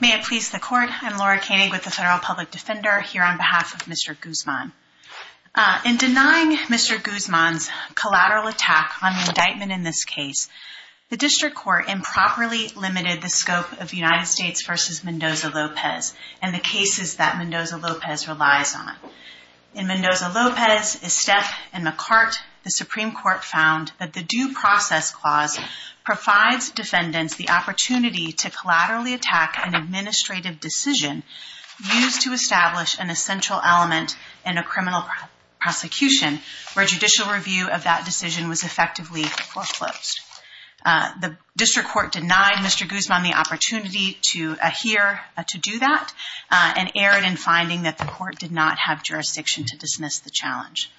May it please the court, I'm Laura Koenig with the Federal Public Defender here on behalf of Mr. Guzman. In denying Mr. Guzman's collateral attack on the indictment in this case, the District Court improperly limited the scope of United States v. Mendoza-Lopez and the cases that Mendoza-Lopez relies on. In Mendoza-Lopez, Estep, and McCart, the Supreme Court found that the Due Process Clause provides defendants the opportunity to collaterally attack an administrative decision used to establish an essential element in a criminal prosecution where judicial review of that decision was effectively foreclosed. The District Court denied Mr. Guzman the opportunity to adhere to do that and erred in finding that the court did not have jurisdiction to dismiss the challenge.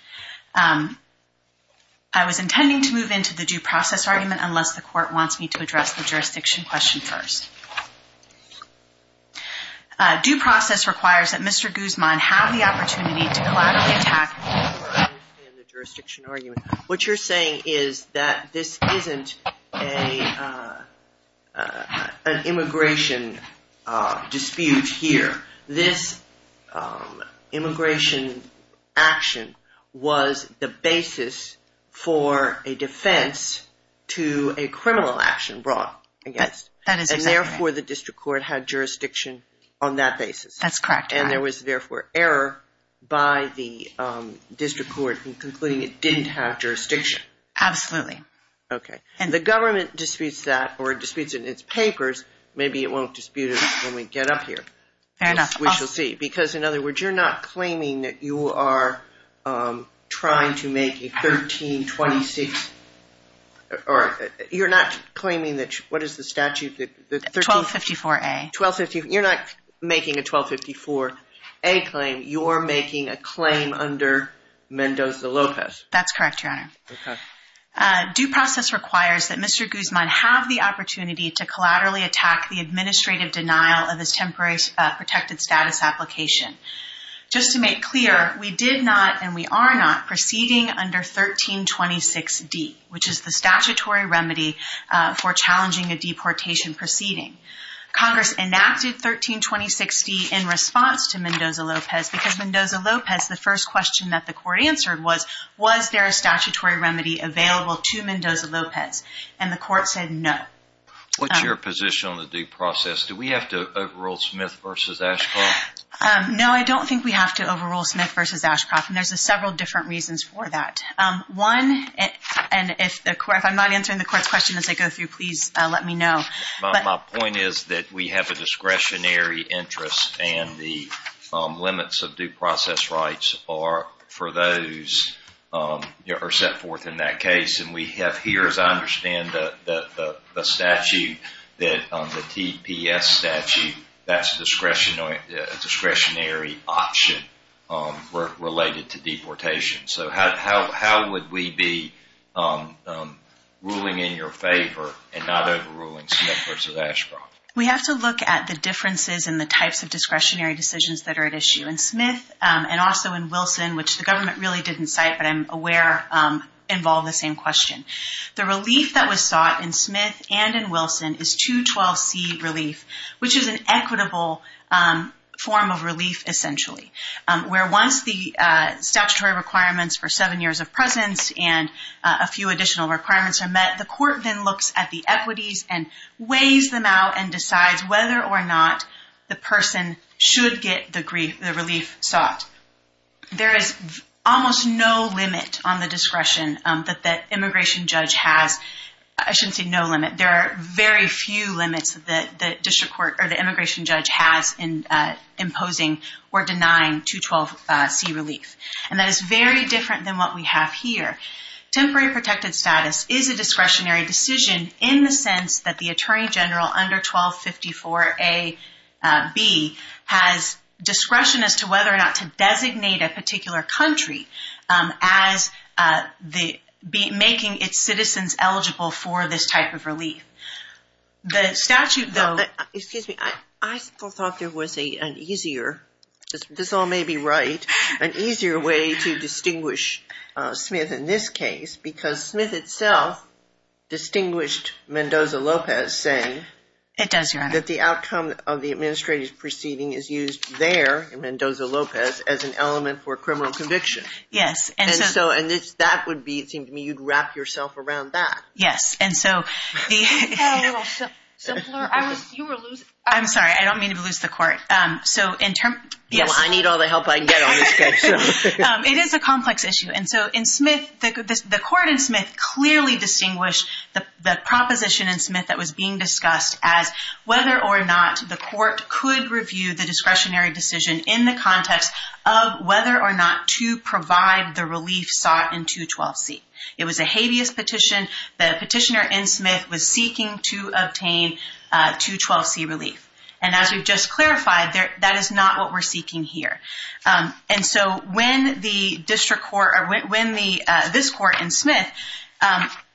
I was intending to move into the Due Process Argument unless the court wants me to address the jurisdiction question first. Due Process requires that Mr. Guzman have the opportunity to collaterally attack. What you're saying is that this isn't an immigration dispute here. This immigration action was the basis for a defense to a criminal action brought against. That is exactly right. And therefore the District Court had jurisdiction on that basis. That's correct. And there was therefore error by the District Court in concluding it didn't have jurisdiction. Absolutely. And the government disputes that or disputes it in its papers. Maybe it won't dispute it when we get up here. Fair enough. We shall see. Because in other words, you're not claiming that you are trying to make a 1326 or you're not claiming that what is the statute that the 1254A. You're not making a 1254A claim. You're making a claim under Mendoza-Lopez. That's correct, Your Honor. Due Process requires that Mr. Guzman have the opportunity to collaterally attack the temporary protected status application. Just to make clear, we did not and we are not proceeding under 1326D, which is the statutory remedy for challenging a deportation proceeding. Congress enacted 1326D in response to Mendoza-Lopez because Mendoza-Lopez, the first question that the court answered was, was there a statutory remedy available to Mendoza-Lopez? And the court said no. What's your position on the due process? Do we have to overrule Smith v. Ashcroft? No, I don't think we have to overrule Smith v. Ashcroft. And there's several different reasons for that. One, and if I'm not answering the court's question as I go through, please let me know. My point is that we have a discretionary interest and the limits of due process rights are for those that are set forth in that case. And we have here, as I understand the statute, the TPS statute, that's a discretionary option related to deportation. So how would we be ruling in your favor and not overruling Smith v. Ashcroft? We have to look at the differences in the types of discretionary decisions that are at issue. In Smith and also in Wilson, which the government really didn't cite, but I'm aware involve the same question. The relief that was sought in Smith and in Wilson is 212C relief, which is an equitable form of relief essentially, where once the statutory requirements for seven years of presence and a few additional requirements are met, the court then looks at the equities and weighs them out and decides whether or not the person should get the relief sought. There is almost no limit on the discretion that the immigration judge has. I shouldn't say no limit. There are very few limits that the immigration judge has in imposing or denying 212C relief. And that is very different than what we have here. Temporary protected status is a discretionary decision in the sense that the attorney general under 1254A.B. has discretion as to whether or not to designate a particular country as making its citizens eligible for this type of relief. The statute, though... Excuse me. I thought there was an easier, this all may be right, an easier way to distinguish Smith in this case because Smith itself distinguished Mendoza-Lopez saying that the outcome of the administrative proceeding is used there in Mendoza-Lopez as an element for criminal conviction. That would be, it seems to me, you'd wrap yourself around that. Yes. I'm sorry. I don't mean to lose the court. I need all the help I can get on this case. It is a complex issue. And so in Smith, the court in Smith clearly distinguished the proposition in Smith that was being discussed as whether or not the court could review the discretionary decision in the context of whether or not to provide the relief sought in 212C. It was a habeas petition. The petitioner in Smith was seeking to obtain 212C relief. And as we've just clarified, that is not what we're seeking here. And so when the district court, when this court in Smith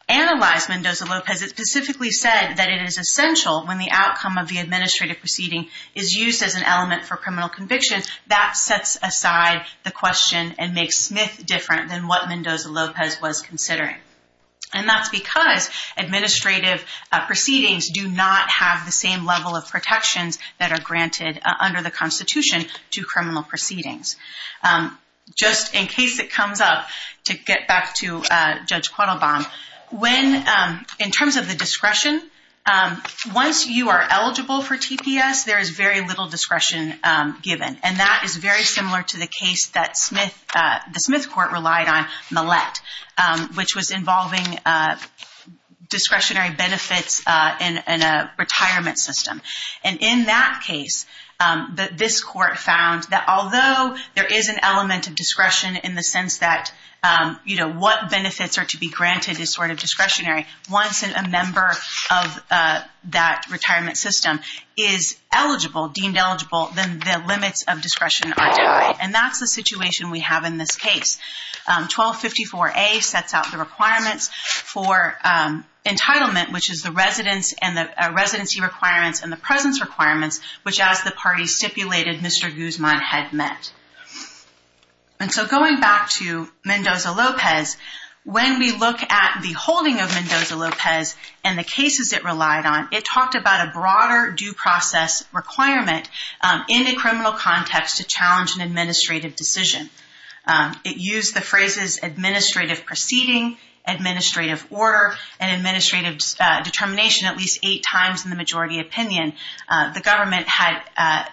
analyzed Mendoza-Lopez, it specifically said that it is essential when the outcome of the administrative proceeding is used as an element for criminal convictions, that sets aside the question and makes Smith different than what Mendoza-Lopez was considering. And that's because administrative proceedings do not have the same level of protections that are granted under the Constitution to criminal proceedings. Just in case it comes up, to get back to Judge Quattlebaum, in terms of the discretion, once you are eligible for TPS, there is very little discretion given. And that is very similar to the case that the Smith court relied on, Millett, which was involving discretionary benefits in a retirement system. And in that case, this court found that although there is an element of discretion in the sense that what benefits are to be granted is sort of discretionary, once a member of that retirement system is eligible, deemed eligible, then the limits of discretion are denied. And that's the situation we have in this case. 1254A sets out the requirements for entitlement, which is the residence and the residency requirements and the presence requirements, which as the party stipulated, Mr. Guzman had met. And so going back to Mendoza-Lopez, when we look at the holding of Mendoza-Lopez and the cases it relied on, it talked about a broader due process requirement in a criminal context to challenge an administrative decision. It used the phrases administrative proceeding, administrative order, and administrative determination at least eight times in the majority opinion. The government had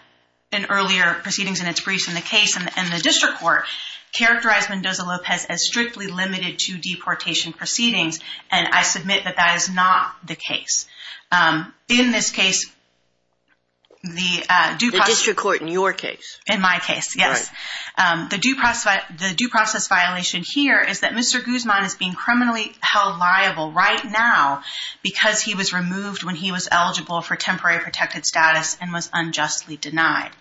in earlier proceedings in its briefs in the case and the district court characterized Mendoza-Lopez as strictly limited to deportation proceedings. And I submit that that is not the case. In this case, the due process... The district court in your case. In my case, yes. The due process violation here is that Mr. Guzman is being criminally held liable right now because he was removed when he was eligible for temporary protected status and was unjustly denied.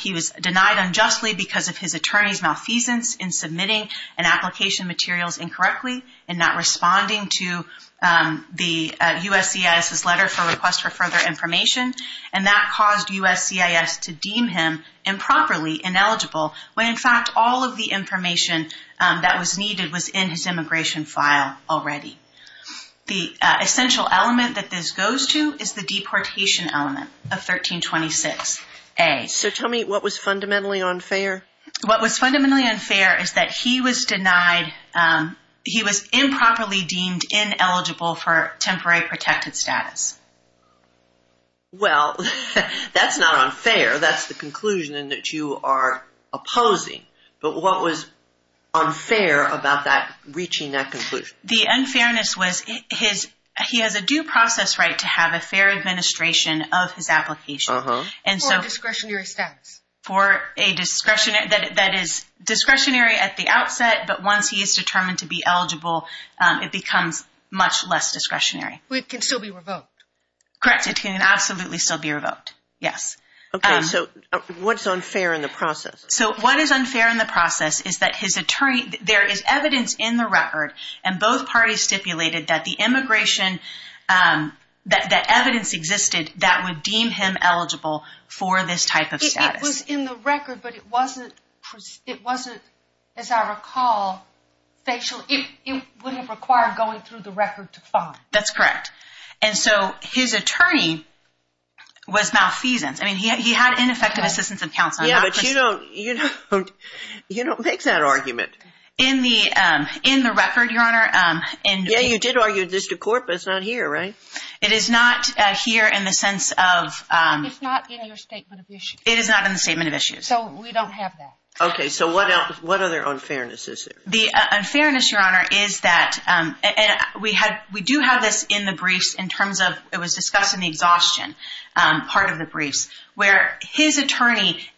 He was denied unjustly because of his attorney's malfeasance in submitting an application materials incorrectly and not responding to the USCIS's letter for request for further information. And that caused USCIS to deem him improperly ineligible when in fact all of the information that was needed was in his immigration file already. The essential element that this goes to is the deportation element of 1326A. So tell me what was fundamentally unfair? What was fundamentally unfair is that he was denied... He was improperly deemed ineligible for temporary protected status. Well, that's not unfair. That's the conclusion that you are opposing. But what was unfair about that, reaching that conclusion? The unfairness was he has a due process right to have a fair administration of his application. For a discretionary status? For a discretionary status that is discretionary at the outset, but once he is determined to be eligible, it becomes much less discretionary. But it can still be revoked? Correct. It can absolutely still be revoked, yes. Okay, so what's unfair in the process? So what is unfair in the process is that his attorney, there is evidence in the record and both parties stipulated that the immigration, that evidence existed that would deem him eligible for this type of status. It was in the record, but it wasn't, as I recall, facial. It would have required going through the record to find. That's correct. And so his attorney was malfeasance. I mean, he had ineffective assistance and counsel. Yeah, but you don't make that argument. In the record, Your Honor. Yeah, you did argue this to court, but it's not here, right? It is not here in the sense of... It's not in your statement of issues. It is not in the statement of issues. So we don't have that. Okay, so what other unfairness is there? The unfairness, Your Honor, is that we do have this in the briefs in terms of, it was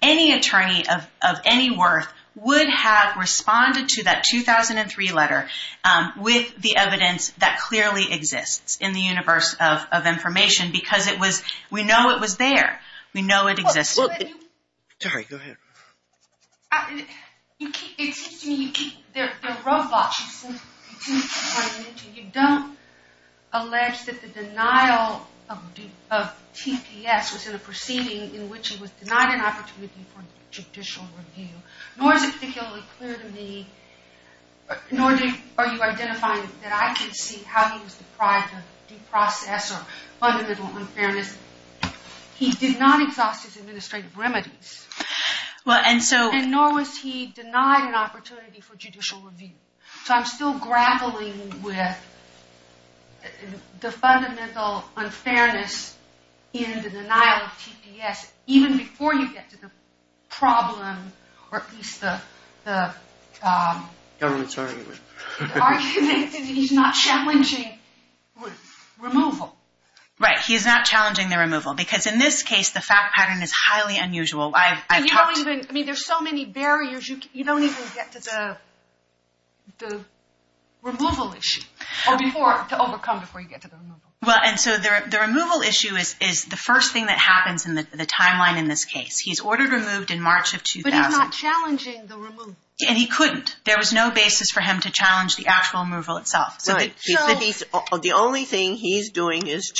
Any attorney of any worth would have responded to that 2003 letter with the evidence that clearly exists in the universe of information because it was, we know it was there. We know it existed. Terry, go ahead. You keep, excuse me, you keep the roadblocks. You don't allege that the denial of TPS was in a proceeding in which it was denied an opportunity for judicial review, nor is it particularly clear to me, nor are you identifying that I can see how he was deprived of due process or fundamental unfairness. He did not exhaust his administrative remedies. Well, and so... And nor was he denied an opportunity for judicial review. So I'm still grappling with the fundamental unfairness in the denial of TPS. Even before you get to the problem, or at least the... Government's argument. Argument that he's not challenging removal. Right, he's not challenging the removal. Because in this case, the fact pattern is highly unusual. I've talked... And you don't even, I mean, there's so many barriers. You don't even get to the removal issue. Or before, to overcome before you get to the removal. Well, and so the removal issue is the first thing that happens in the timeline in this case. He's ordered removed in March of 2000. But he's not challenging the removal. And he couldn't. There was no basis for him to challenge the actual removal itself. So the only thing he's doing is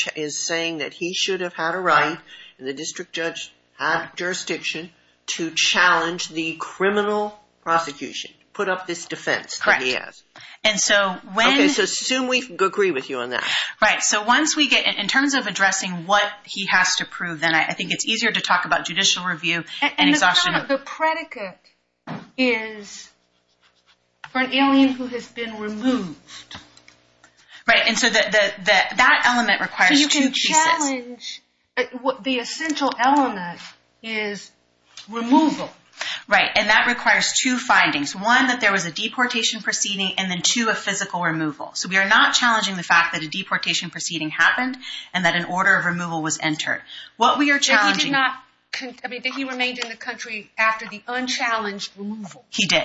saying that he should have had a right, and the district judge had jurisdiction, to challenge the criminal prosecution. Put up this defense that he has. Correct. And so when... Okay, so assume we agree with you on that. Right, so once we get... In terms of addressing what he has to prove, then I think it's easier to talk about judicial review and exhaustion. The predicate is for an alien who has been removed. Right, and so that element requires two pieces. So you can challenge... The essential element is removal. Right, and that requires two findings. One, that there was a deportation proceeding, and then two, a physical removal. So we are not challenging the fact that a deportation proceeding happened and that an order of removal was entered. What we are challenging... But he did not... I mean, but he remained in the country after the unchallenged removal. He did.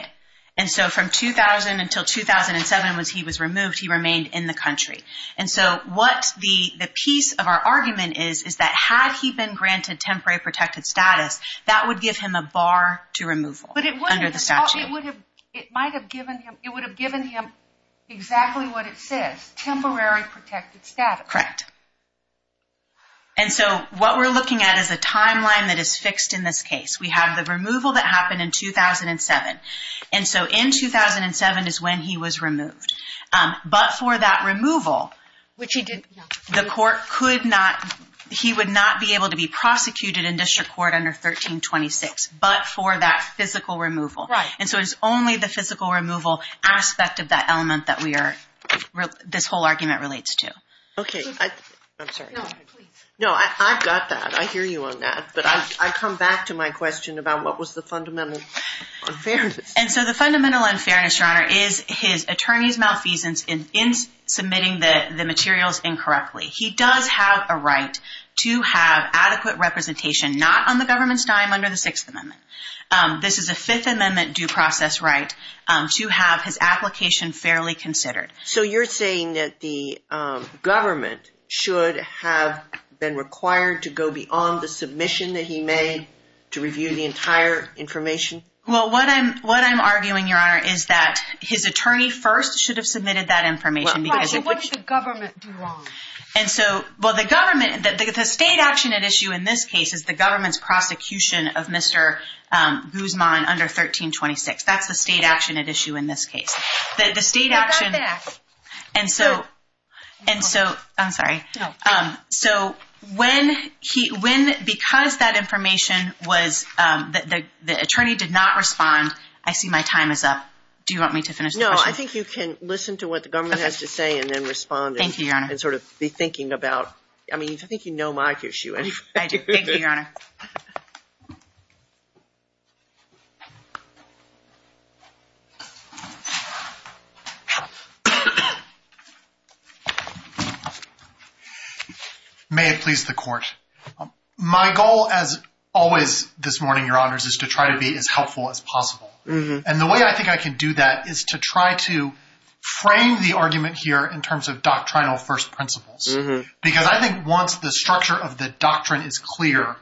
And so from 2000 until 2007, when he was removed, he remained in the country. And so what the piece of our argument is, is that had he been granted temporary protected status, that would give him a bar to removal under the statute. Well, it would have... It might have given him... It would have given him exactly what it says, temporary protected status. Correct. And so what we're looking at is a timeline that is fixed in this case. We have the removal that happened in 2007. And so in 2007 is when he was removed. But for that removal, which he did... The court could not... He would not be able to be prosecuted in district court under 1326, but for that physical removal. Right. And so it's only the physical removal aspect of that element that we are... This whole argument relates to. Okay. I'm sorry. No, please. No, I've got that. I hear you on that. But I come back to my question about what was the fundamental unfairness. And so the fundamental unfairness, Your Honor, is his attorney's malfeasance in submitting the materials incorrectly. He does have a right to have adequate representation, not on the government's dime under the Sixth Amendment. This is a Fifth Amendment due process right to have his application fairly considered. So you're saying that the government should have been required to go beyond the submission that he made to review the entire information? Well, what I'm arguing, Your Honor, is that his attorney first should have submitted that information. Right. So what did the government do wrong? And so... Well, the government... The state action at issue in this case is the government's prosecution of Mr. Guzman under 1326. That's the state action at issue in this case. The state action... I've got that. And so... And so... I'm sorry. No. So when he... Because that information was... The attorney did not respond. I see my time is up. Do you want me to finish the question? No, I think you can listen to what the government has to say and then respond. Thank you, Your Honor. And sort of be thinking about... I mean, I think you know my issue anyway. Thank you. Thank you, Your Honor. May it please the Court. My goal, as always this morning, Your Honors, is to try to be as helpful as possible. And the way I think I can do that is to try to frame the argument here in terms of doctrinal first principles. Because I think once the structure of the doctrine is clear,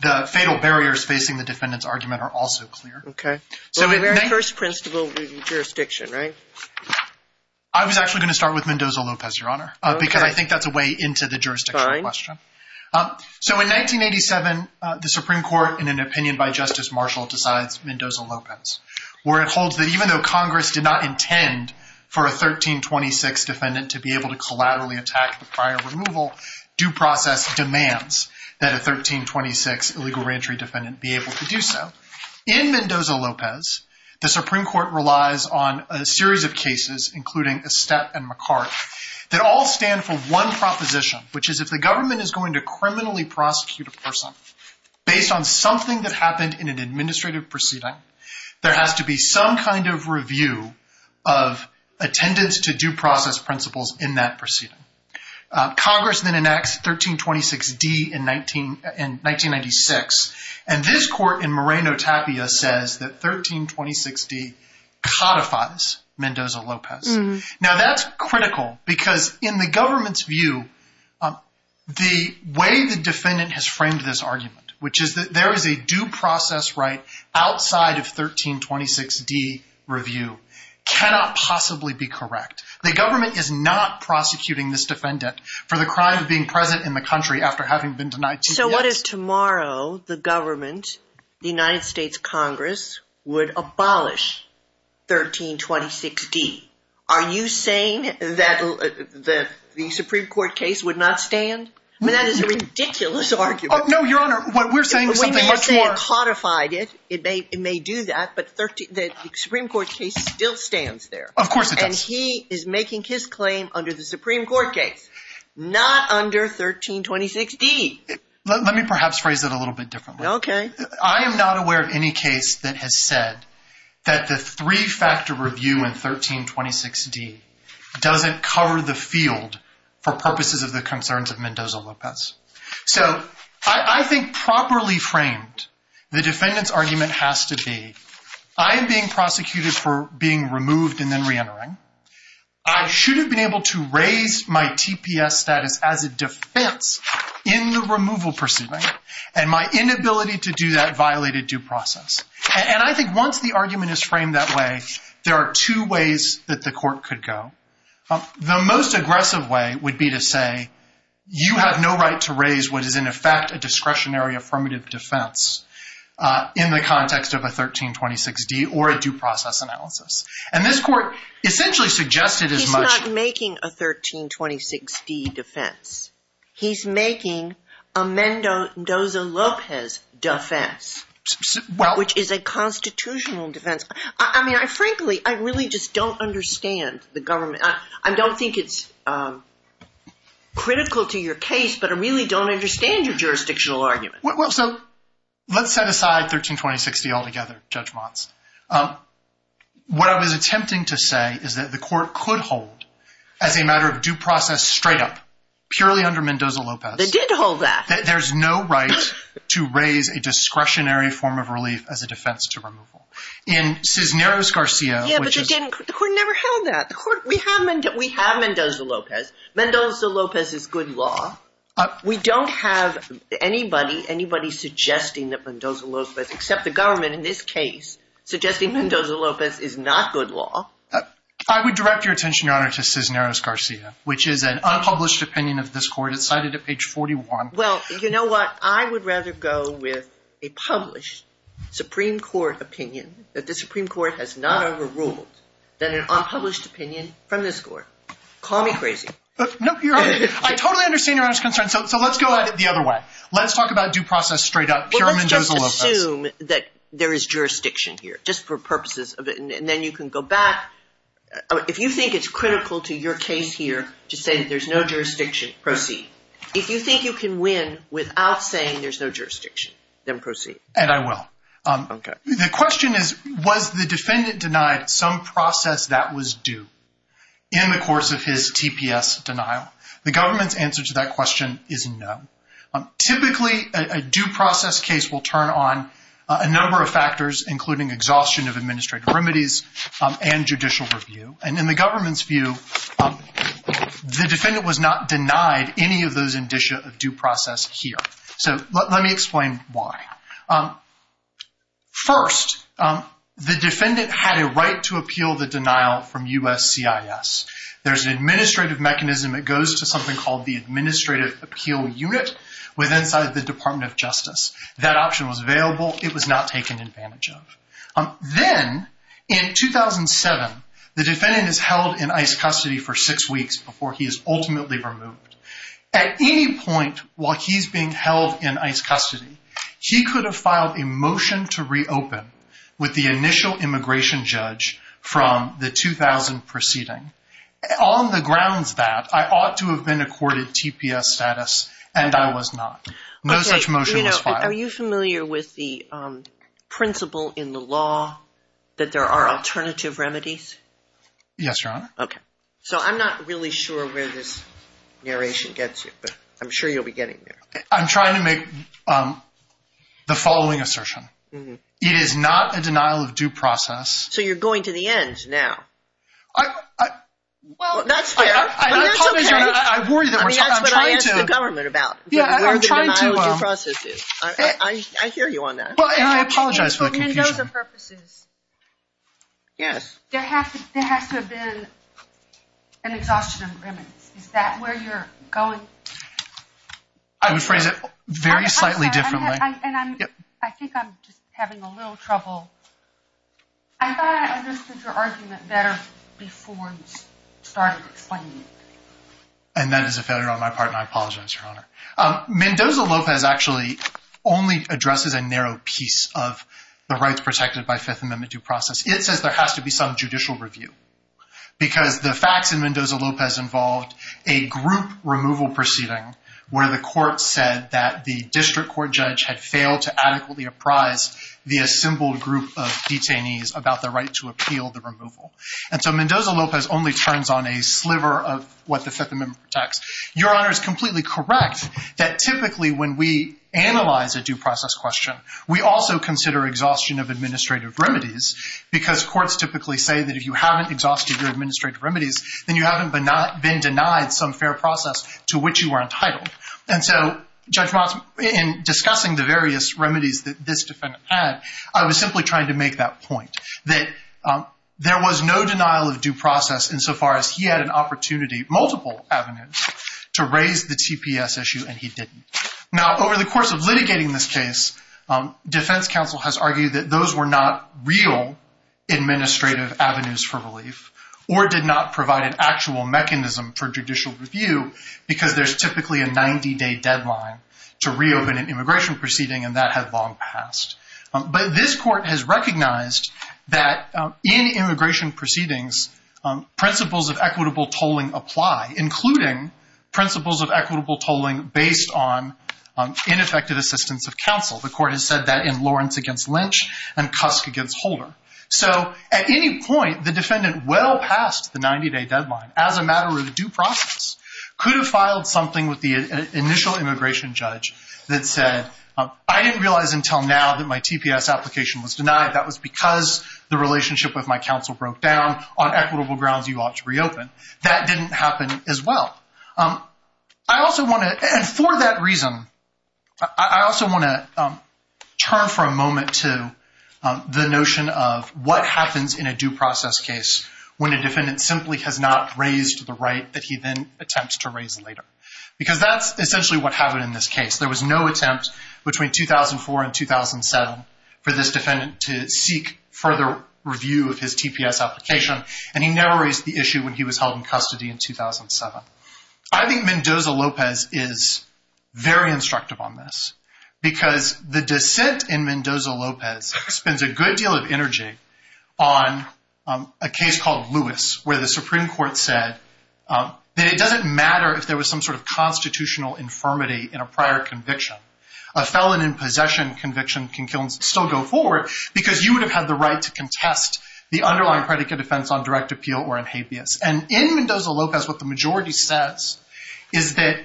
the fatal barriers facing the defendant's argument are also clear. Okay. So the very first principle is jurisdiction, right? I was actually going to start with Mendoza-Lopez, Your Honor, because I think that's a way into the jurisdictional question. Fine. So in 1987, the Supreme Court, in an opinion by Justice Marshall, decides Mendoza-Lopez, where it holds that even though Congress did not intend for a 1326 defendant to be able to collaterally attack the prior removal, due process demands that a 1326 illegal reentry defendant be able to do so. In Mendoza-Lopez, the Supreme Court relies on a series of cases, including Estette and McCart, that all stand for one proposition, which is if the government is going to criminally prosecute a person based on something that happened in an administrative proceeding, there has to be some kind of review of attendance to due process principles in that proceeding. Congress then enacts 1326D in 1996, and this court in Moreno Tapia says that 1326D codifies Mendoza-Lopez. Now, that's critical, because in the government's view, the way the defendant has framed this argument, which is that there is a due process right outside of 1326D review, cannot possibly be correct. The government is not prosecuting this defendant for the crime of being present in the country after having been denied due process. So what if tomorrow the government, the United States Congress, would abolish 1326D? Are you saying that the Supreme Court case would not stand? I mean, that is a ridiculous argument. Oh, no, Your Honor, what we're saying is something much more... We may have said it codified it, it may do that, but the Supreme Court case still stands there. Of course it does. And he is making his claim under the Supreme Court case, not under 1326D. Let me perhaps phrase it a little bit differently. Okay. I am not aware of any case that has said that the three-factor review in 1326D doesn't cover the field for purposes of the concerns of Mendoza-Lopez. So I think properly framed, the defendant's argument has to be, I am being prosecuted for being removed and then reentering. I should have been able to raise my TPS status as a defense in the removal proceeding, and my inability to do that violated due process. And I think once the argument is framed that way, there are two ways that the court could go. The most aggressive way would be to say, you have no right to raise what is in effect a discretionary affirmative defense in the context of a 1326D or a due process analysis. And this court essentially suggested as much... He's not making a 1326D defense. He's making a Mendoza-Lopez defense, which is a constitutional defense. I mean, frankly, I really just don't understand the government. I don't think it's critical to your case, but I really don't understand your jurisdictional argument. So let's set aside 1326D altogether, Judge Motz. What I was attempting to say is that the court could hold, as a matter of due process straight up, purely under Mendoza-Lopez... They did hold that. There's no right to raise a discretionary form of relief as a defense to removal. In Cisneros-Garcia... Yeah, but they didn't... The court never held that. The court... We have Mendoza-Lopez. Mendoza-Lopez is good law. We don't have anybody, anybody suggesting that Mendoza-Lopez, except the government in this case, suggesting Mendoza-Lopez is not good law. I would direct your attention, Your Honor, to Cisneros-Garcia, which is an unpublished opinion of this court. It's cited at page 41. Well, you know what? I would rather go with a published Supreme Court opinion that the Supreme Court has not overruled than an unpublished opinion from this court. Call me crazy. No, Your Honor. I totally understand Your Honor's concern. So let's go at it the other way. Let's talk about due process straight up. Well, let's just assume that there is jurisdiction here, just for purposes of it. And then you can go back. If you think it's critical to your case here to say that there's no jurisdiction, proceed. If you think you can win without saying there's no jurisdiction, then proceed. And I will. Okay. The question is, was the defendant denied some process that was due? In the course of his TPS denial, the government's answer to that question is no. Typically, a due process case will turn on a number of factors, including exhaustion of administrative remedies and judicial review. And in the government's view, the defendant was not denied any of those indicia of due process here. So let me explain why. First, the defendant had a right to appeal the denial from USCIS. There's an administrative mechanism that goes to something called the Administrative Appeal Unit within the Department of Justice. That option was available. It was not taken advantage of. Then, in 2007, the defendant is held in ICE custody for six weeks before he is ultimately removed. At any point while he's being held in ICE custody, he could have filed a motion to reopen with the initial immigration judge from the 2000 proceeding. On the grounds that I ought to have been accorded TPS status and I was not. No such motion was filed. Are you familiar with the principle in the law that there are alternative remedies? Yes, Your Honor. Okay. So I'm not really sure where this narration gets you, but I'm sure you'll be getting there. I'm trying to make the following assertion. It is not a denial of due process. So you're going to the ends now. That's fair. That's what I asked the government about. I hear you on that. And I apologize for the confusion. And those are purposes. Yes. There has to have been an exhaustion of remedies. Is that where you're going? I would phrase it very slightly differently. I think I'm just having a little trouble. I thought I understood your argument better before you started explaining it. And that is a failure on my part, and I apologize, Your Honor. Mendoza-Lopez actually only addresses a narrow piece of the rights protected by Fifth Amendment due process. It says there has to be some judicial review because the facts in Mendoza-Lopez involved a group removal proceeding where the court said that the district court judge had failed to adequately apprise the assembled group of detainees about the right to appeal the removal. And so Mendoza-Lopez only turns on a sliver of what the Fifth Amendment protects. Your Honor is completely correct that typically when we analyze a due process question, we also consider exhaustion of administrative remedies because courts typically say that if you haven't exhausted your administrative remedies, then you haven't been denied some fair process to which you are entitled. And so, Judge Motz, in discussing the various remedies that this defendant had, I was simply trying to make that point that there was no denial of due process insofar as he had an opportunity, multiple avenues, to raise the TPS issue, and he didn't. Now, over the course of litigating this case, defense counsel has argued that those were not real administrative avenues for relief or did not provide an actual mechanism for judicial review because there's typically a 90-day deadline to reopen an immigration proceeding and that had long passed. But this court has recognized that in immigration proceedings, principles of equitable tolling apply, including principles of equitable tolling based on ineffective assistance of counsel. The court has said that in Lawrence against Lynch and Cusk against Holder. So at any point, the defendant well past the 90-day deadline as a matter of due process could have filed something with the initial immigration judge that said, I didn't realize until now that my TPS application was denied. That was because the relationship with my counsel broke down on equitable grounds you ought to reopen. That didn't happen as well. And for that reason, I also want to turn for a moment to the notion of what happens in a due process case when a defendant simply has not raised the right that he then attempts to raise later. Because that's essentially what happened in this case. There was no attempt between 2004 and 2007 for this defendant to seek further review of his TPS application and he never raised the issue when he was held in custody in 2007. I think Mendoza-Lopez is very instructive on this because the dissent in Mendoza-Lopez spends a good deal of energy on a case called Lewis where the Supreme Court said that it doesn't matter if there was some sort of constitutional infirmity in a prior conviction. A felon in possession conviction can still go forward because you would have had the right to contest the underlying predicate defense on direct appeal or in habeas. And in Mendoza-Lopez what the majority says is that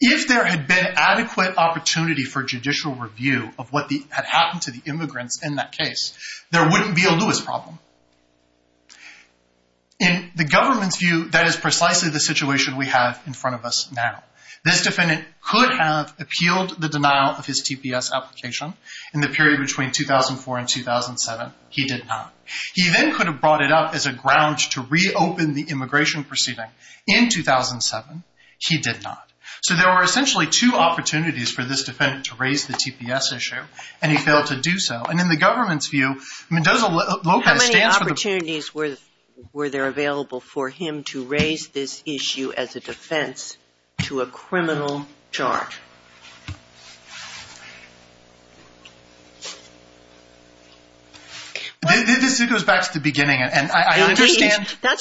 if there had been adequate opportunity for judicial review of what had happened to the Lewis problem. In the government's view that is precisely the situation we have in front of us now. This defendant could have appealed the denial of his TPS application in the period between 2004 and 2007. He did not. He then could have brought it up as a ground to reopen the immigration proceeding in 2007. He did not. So there were essentially two opportunities for this defendant to raise the TPS issue and he failed to do so. And in the government's view, Mendoza-Lopez How many opportunities were there available for him to raise this issue as a defense to a criminal charge? This goes back to the beginning and I understand I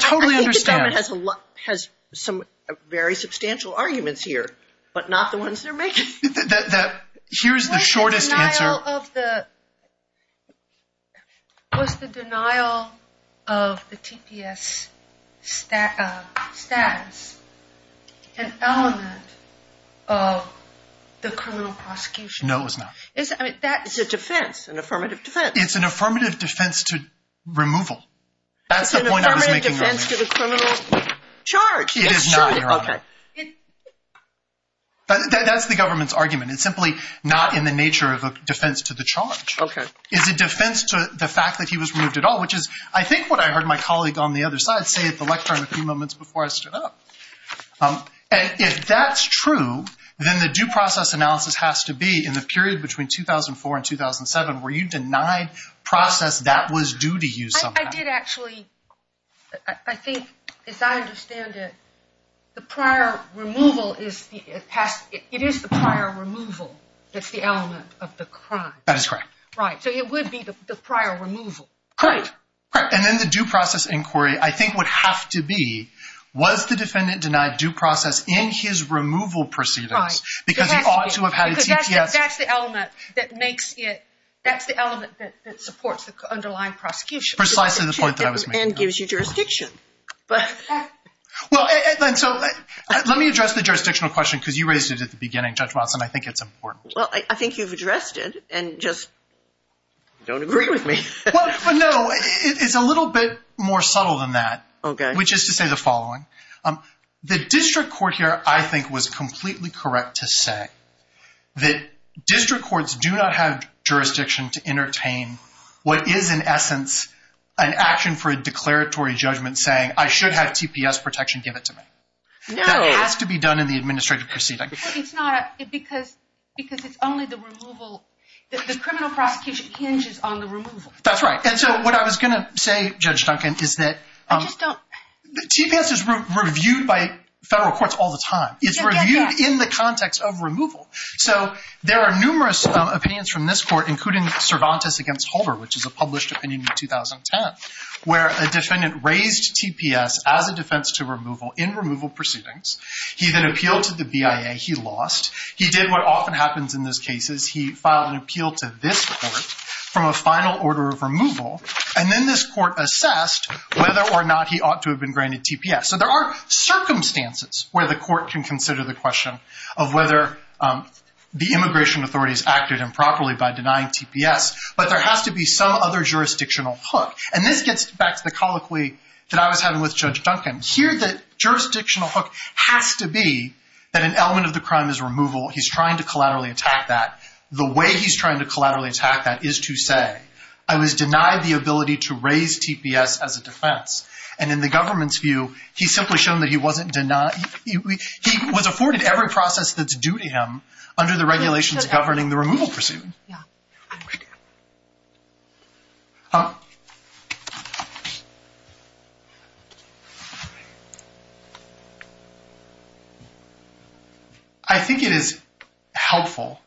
totally understand The defendant has some very substantial arguments here but not the ones they're making. Here's the shortest answer Was the denial of the TPS status an element of the criminal prosecution? No, it was not. It's an affirmative defense. It's an affirmative defense to removal. That's the point I was making earlier. It's an affirmative defense to the criminal charge. It is not, Your Honor. Okay. That's the government's argument. It's simply not in the nature of a defense to the charge. It's a defense to the fact that he was removed at all, which is I think what I heard my colleague on the other side say at the lectern a few moments before I stood up. And if that's true, then the due process analysis has to be in the period between 2004 and 2007 where you denied process that was due to you somehow. I did actually, I think as I understand it the prior removal it is the prior removal that's the element of the crime. That is correct. So it would be the prior removal. And then the due process inquiry I think would have to be was the defendant denied due process in his removal proceedings because he ought to have had a TPS That's the element that makes it that's the element that supports the underlying prosecution. Precisely the point that I was making. And gives you jurisdiction. Let me address the jurisdictional question because you raised it at the beginning Judge Watson, I think it's important. I think you've addressed it and just don't agree with me. No, it's a little bit more subtle than that. Which is to say the following the district court here I think was completely correct to say that district courts do not have jurisdiction to entertain what is in essence an action for a declaratory judgment saying I should have TPS protection give it to me. That has to be done in the administrative proceeding. Because it's only the removal, the criminal prosecution hinges on the removal. And so what I was going to say Judge Duncan is that TPS is reviewed by federal courts all the time. It's reviewed in the context of removal. So there are numerous opinions from this court including Cervantes against Holder which is a published opinion in 2010 where a defendant raised TPS as a defense to removal in removal proceedings. He then appealed to the BIA. He lost. He did what often happens in those cases he filed an appeal to this court from a final order of removal and then this court assessed whether or not he ought to have been granted TPS. So there are circumstances where the court can consider the question of whether the immigration authorities acted improperly by denying TPS but there has to be some other jurisdictional hook. And this gets back to the colloquy that I was having with Judge Duncan. Here the jurisdictional hook has to be that an element of the crime is removal. He's trying to collaterally attack that. The way he's trying to collaterally attack that is to say I was denied the ability to raise TPS as a defense. And in the government's view he's simply shown that he wasn't denied He was afforded every process that's due to him under the regulations governing the removal proceedings. I think it is helpful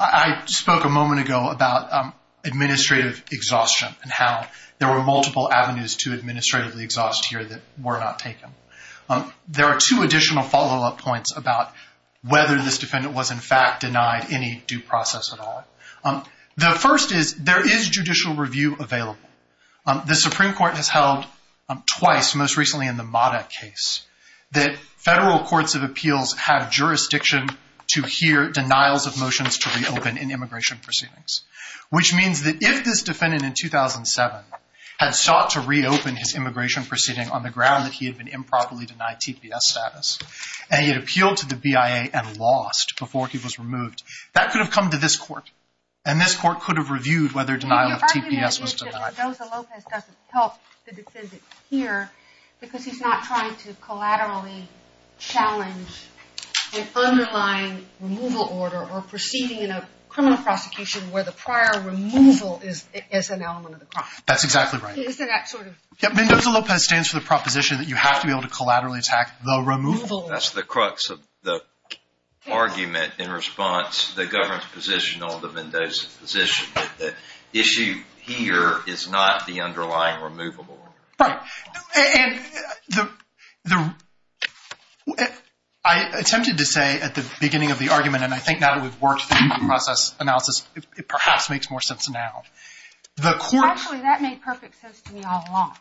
I spoke a moment ago about administrative exhaustion and how there were multiple avenues to administratively exhaust here that were not taken. There are two additional follow up points about whether this defendant was in fact denied any due process at all. The first is there is judicial review available. The Supreme Court has held twice, most recently in the Modak case that federal courts of appeals have jurisdiction to hear denials of motions to reopen in immigration proceedings. Which means that if this defendant in 2007 had sought to reopen his immigration proceeding on the ground that he had been improperly denied TPS status and he had appealed to the BIA and lost before he was removed that could have come to this court. And this court could have reviewed whether denial of TPS was denied. Because he's not trying to collaterally challenge an underlying removal order or proceeding in a criminal prosecution where the prior removal is an element of the process. That's exactly right. Mendoza-Lopez stands for the proposition that you have to be able to collaterally attack the removal. That's the crux of the argument in response to the government position on the Mendoza position that the issue here is not the underlying removal order. Right. And the I attempted to say at the beginning of the argument and I think now that we've worked through the process analysis it perhaps makes more sense now. Actually that made perfect sense to me all along.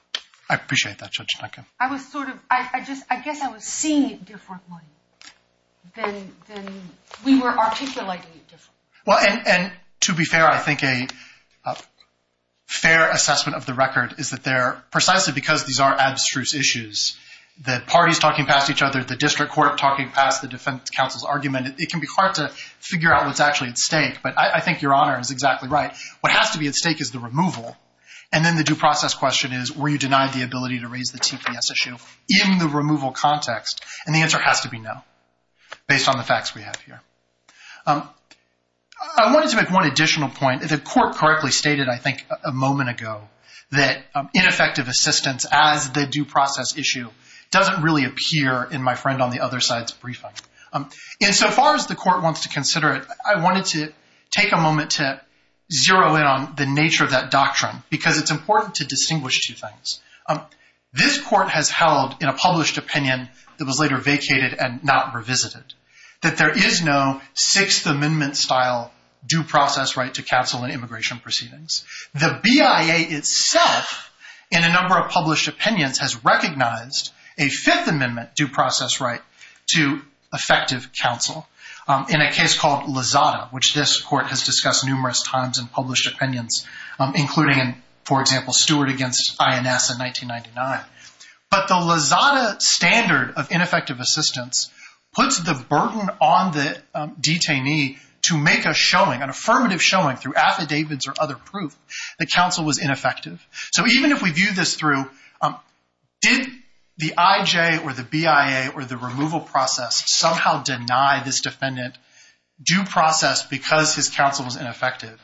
I appreciate that Judge Duncan. I guess I was seeing it differently than we were articulating it differently. Well and to be fair I think a fair assessment of the record is that there precisely because these are abstruse issues the parties talking past each other the district court talking past the defense counsel's argument it can be hard to say what's actually at stake but I think your honor is exactly right. What has to be at stake is the removal and then the due process question is were you denied the ability to raise the TPS issue in the removal context and the answer has to be no based on the facts we have here. I wanted to make one additional point. The court correctly stated I think a moment ago that ineffective assistance as the due process issue doesn't really appear in my friend on the other side's briefing. In so far as the court wants to consider it I wanted to take a moment to zero in on the nature of that doctrine because it's important to distinguish two things. This court has held in a published opinion that was later vacated and not revisited that there is no 6th amendment style due process right to counsel in immigration proceedings. The BIA itself in a number of published opinions has recognized a 5th amendment due process right to effective counsel. In a case called Lazada which this court has discussed numerous times in published opinions including for example Stewart against INS in 1999. But the Lazada standard of ineffective assistance puts the burden on the detainee to make a showing, an affirmative showing through affidavits or other proof that counsel was ineffective. So even if we view this through did the IJ or the BIA or the removal process somehow deny this defendant due process because his counsel was ineffective?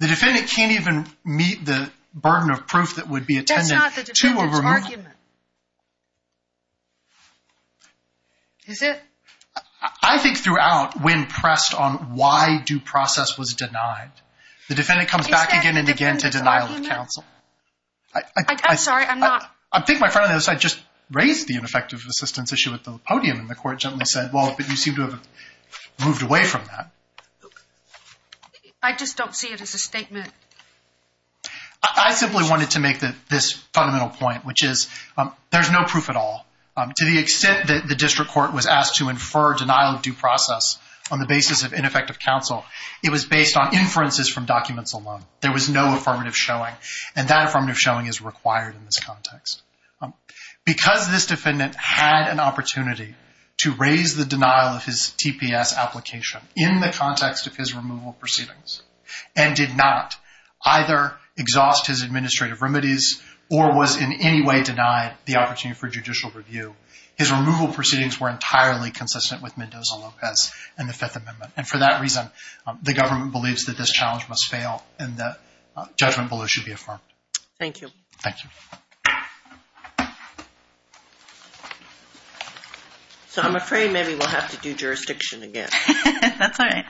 The defendant can't even meet the burden of proof that would be attended to a removal. That's not the defendant's argument. Is it? I think throughout when pressed on why due process was denied. The defendant comes back again and again to denial of counsel. I'm sorry I'm not I think my friend on the other side just raised the ineffective assistance issue at the podium and the court gently said well you seem to have moved away from that. I just don't see it as a statement. I simply wanted to make this fundamental point which is there's no proof at all. To the extent that the district court was asked to infer denial of due process on the basis of ineffective counsel. It was based on inferences from documents alone. There was no affirmative showing and that affirmative showing is required in this context. Because this defendant had an opportunity to raise the denial of his TPS application in the context of his removal proceedings and did not either exhaust his administrative remedies or was in any way denied the opportunity for judicial review. His removal proceedings were entirely consistent with Mendoza-Lopez and the Fifth Amendment and for that reason the government believes that this challenge must fail and that judgment below should be affirmed. Thank you. I'm afraid maybe we'll have to do jurisdiction again. That's alright.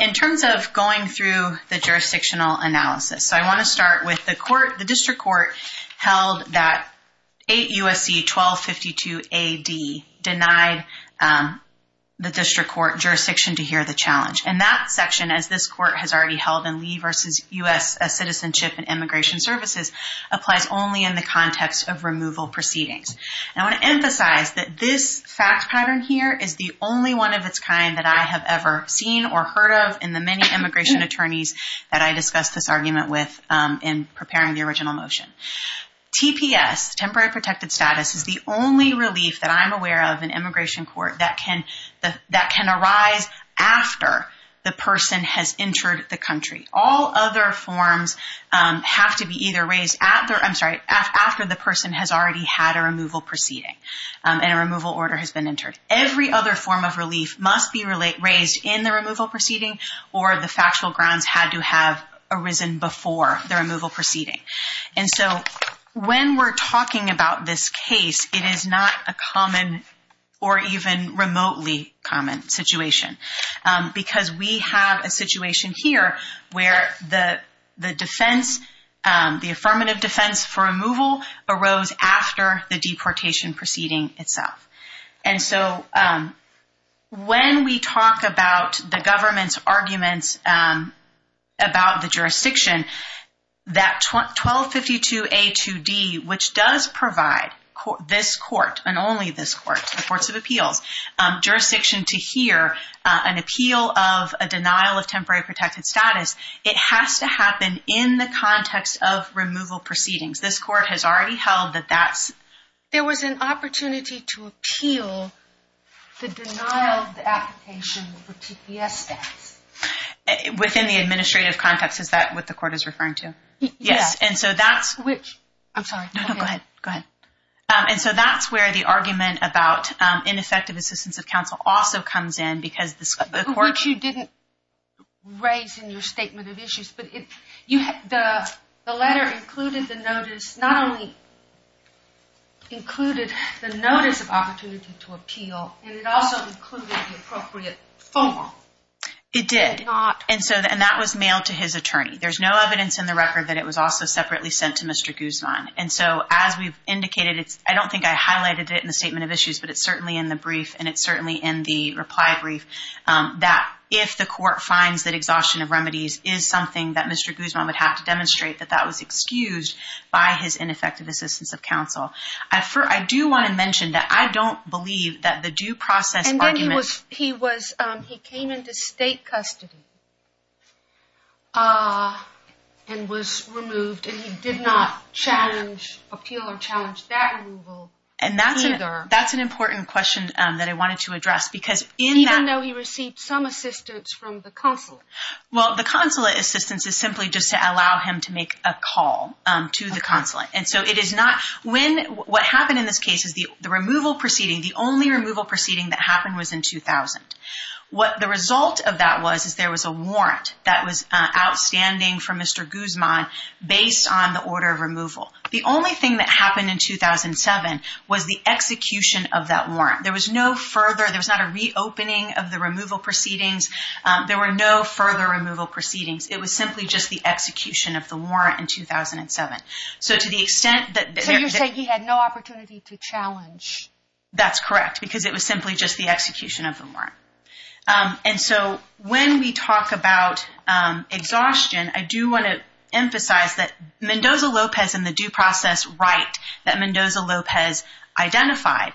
In terms of going through the jurisdictional analysis I want to start with the court, the district court held that 8 U.S.C. 1252 A.D. denied the district court jurisdiction to hear the challenge. And that section, as this court has already held in Lee v. U.S.C. Citizenship and Immigration Services applies only in the context of removal proceedings. I want to emphasize that this fact pattern here is the only one of its kind that I have ever seen or heard of in the many immigration attorneys that I discussed this argument with in preparing the original motion. TPS, temporary protected status, is the only relief that I'm aware of in the United States. It applies after the person has entered the country. All other forms have to be either raised after the person has already had a removal proceeding and a removal order has been entered. Every other form of relief must be raised in the removal proceeding or the factual grounds had to have arisen before the removal proceeding. And so when we're talking about this situation, because we have a situation here where the affirmative defense for removal arose after the deportation proceeding itself. And so when we talk about the government's arguments about the jurisdiction, that 1252 A2D, which does provide this court and only this court, the courts of appeals, jurisdiction to hear an appeal of a denial of temporary protected status, it has to happen in the context of removal proceedings. This court has already held that that's... There was an opportunity to appeal the denial of the application for TPS status. Within the administrative context, is that what the court is referring to? Yes. And so that's... I'm sorry. No, go ahead. And so that's where the affirmative assistance of counsel also comes in because the court... Which you didn't raise in your statement of issues, but the letter included the notice not only included the notice of opportunity to appeal, and it also included the appropriate form. It did. And that was mailed to his attorney. There's no evidence in the record that it was also separately sent to Mr. Guzman. And so as we've indicated, I don't think I I don't believe that the due process argument... And then he was... He came into state custody and was removed and he did not challenge, appeal, or challenge that's the case. And I'm not sure that that's the case. Even though he received some assistance from the consulate? Well, the consulate assistance is simply just to allow him to make a call to the consulate. And so it is not... When... What happened in this case is the removal proceeding, the only removal proceeding that happened was in 2000. What the result of that was is there was a warrant that was outstanding from Mr. Guzman based on the order of removal. The only thing that happened in 2007 was the execution of that warrant. There was no further... There was not a reopening of the removal proceedings. There were no further removal proceedings. It was simply just the execution of the warrant in 2007. So to the extent that... So you're saying he had no opportunity to challenge? That's correct, because it was simply just the execution of the warrant. And so when we talk about exhaustion, I do want to emphasize that Mendoza-Lopez and the due process right that Mendoza-Lopez identified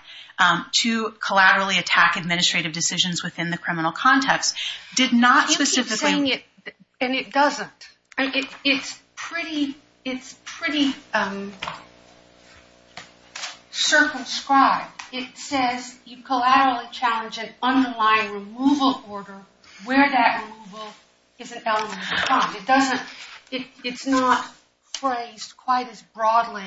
to collaterally attack administrative decisions within the criminal context did not specifically... You keep saying it and it doesn't. It's pretty... circumscribed. It says you collaterally challenge an underlying removal order where that removal is an element of crime. It doesn't... It's not phrased quite as broadly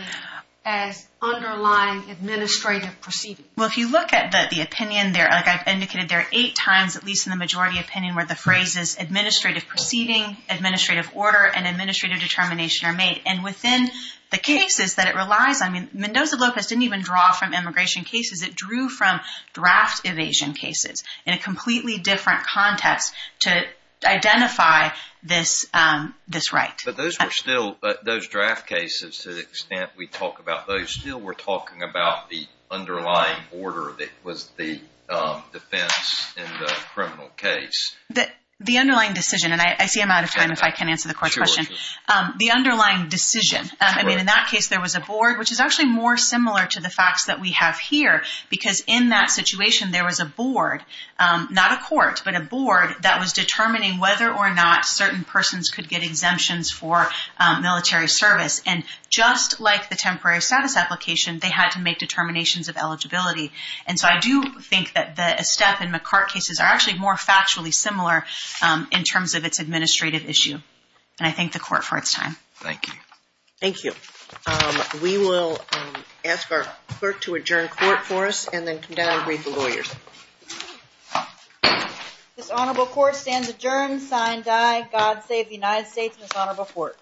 as underlying administrative proceedings. Well, if you look at the opinion there, like I've indicated, there are eight times at least in the majority opinion where the phrase is administrative proceeding, administrative order, and administrative determination are made. And within the cases that it relies on... I mean, Mendoza-Lopez didn't even draw from immigration cases. It drew from draft evasion cases in a completely different context to identify this right. But those were still... Those draft cases, to the extent we talk about those, still were talking about the underlying order that was the defense in the criminal case. The underlying decision, and I see I'm out of time if I can't answer the court's question. The underlying decision. I mean, in that case there was a board, which is actually more similar to the facts that we have here because in that situation there was a board, not a court, but a board that was determining whether or not certain persons could get exemptions for military service. And just like the temporary status application, they had to make determinations of eligibility. And so I do think that the Estep and McCart cases are actually more factually similar in terms of its administrative issue. And I thank the court for its time. Thank you. We will ask our clerk to adjourn court for us and then come down and greet the lawyers. This honorable court stands adjourned, sign, die. God save the United States and this honorable court.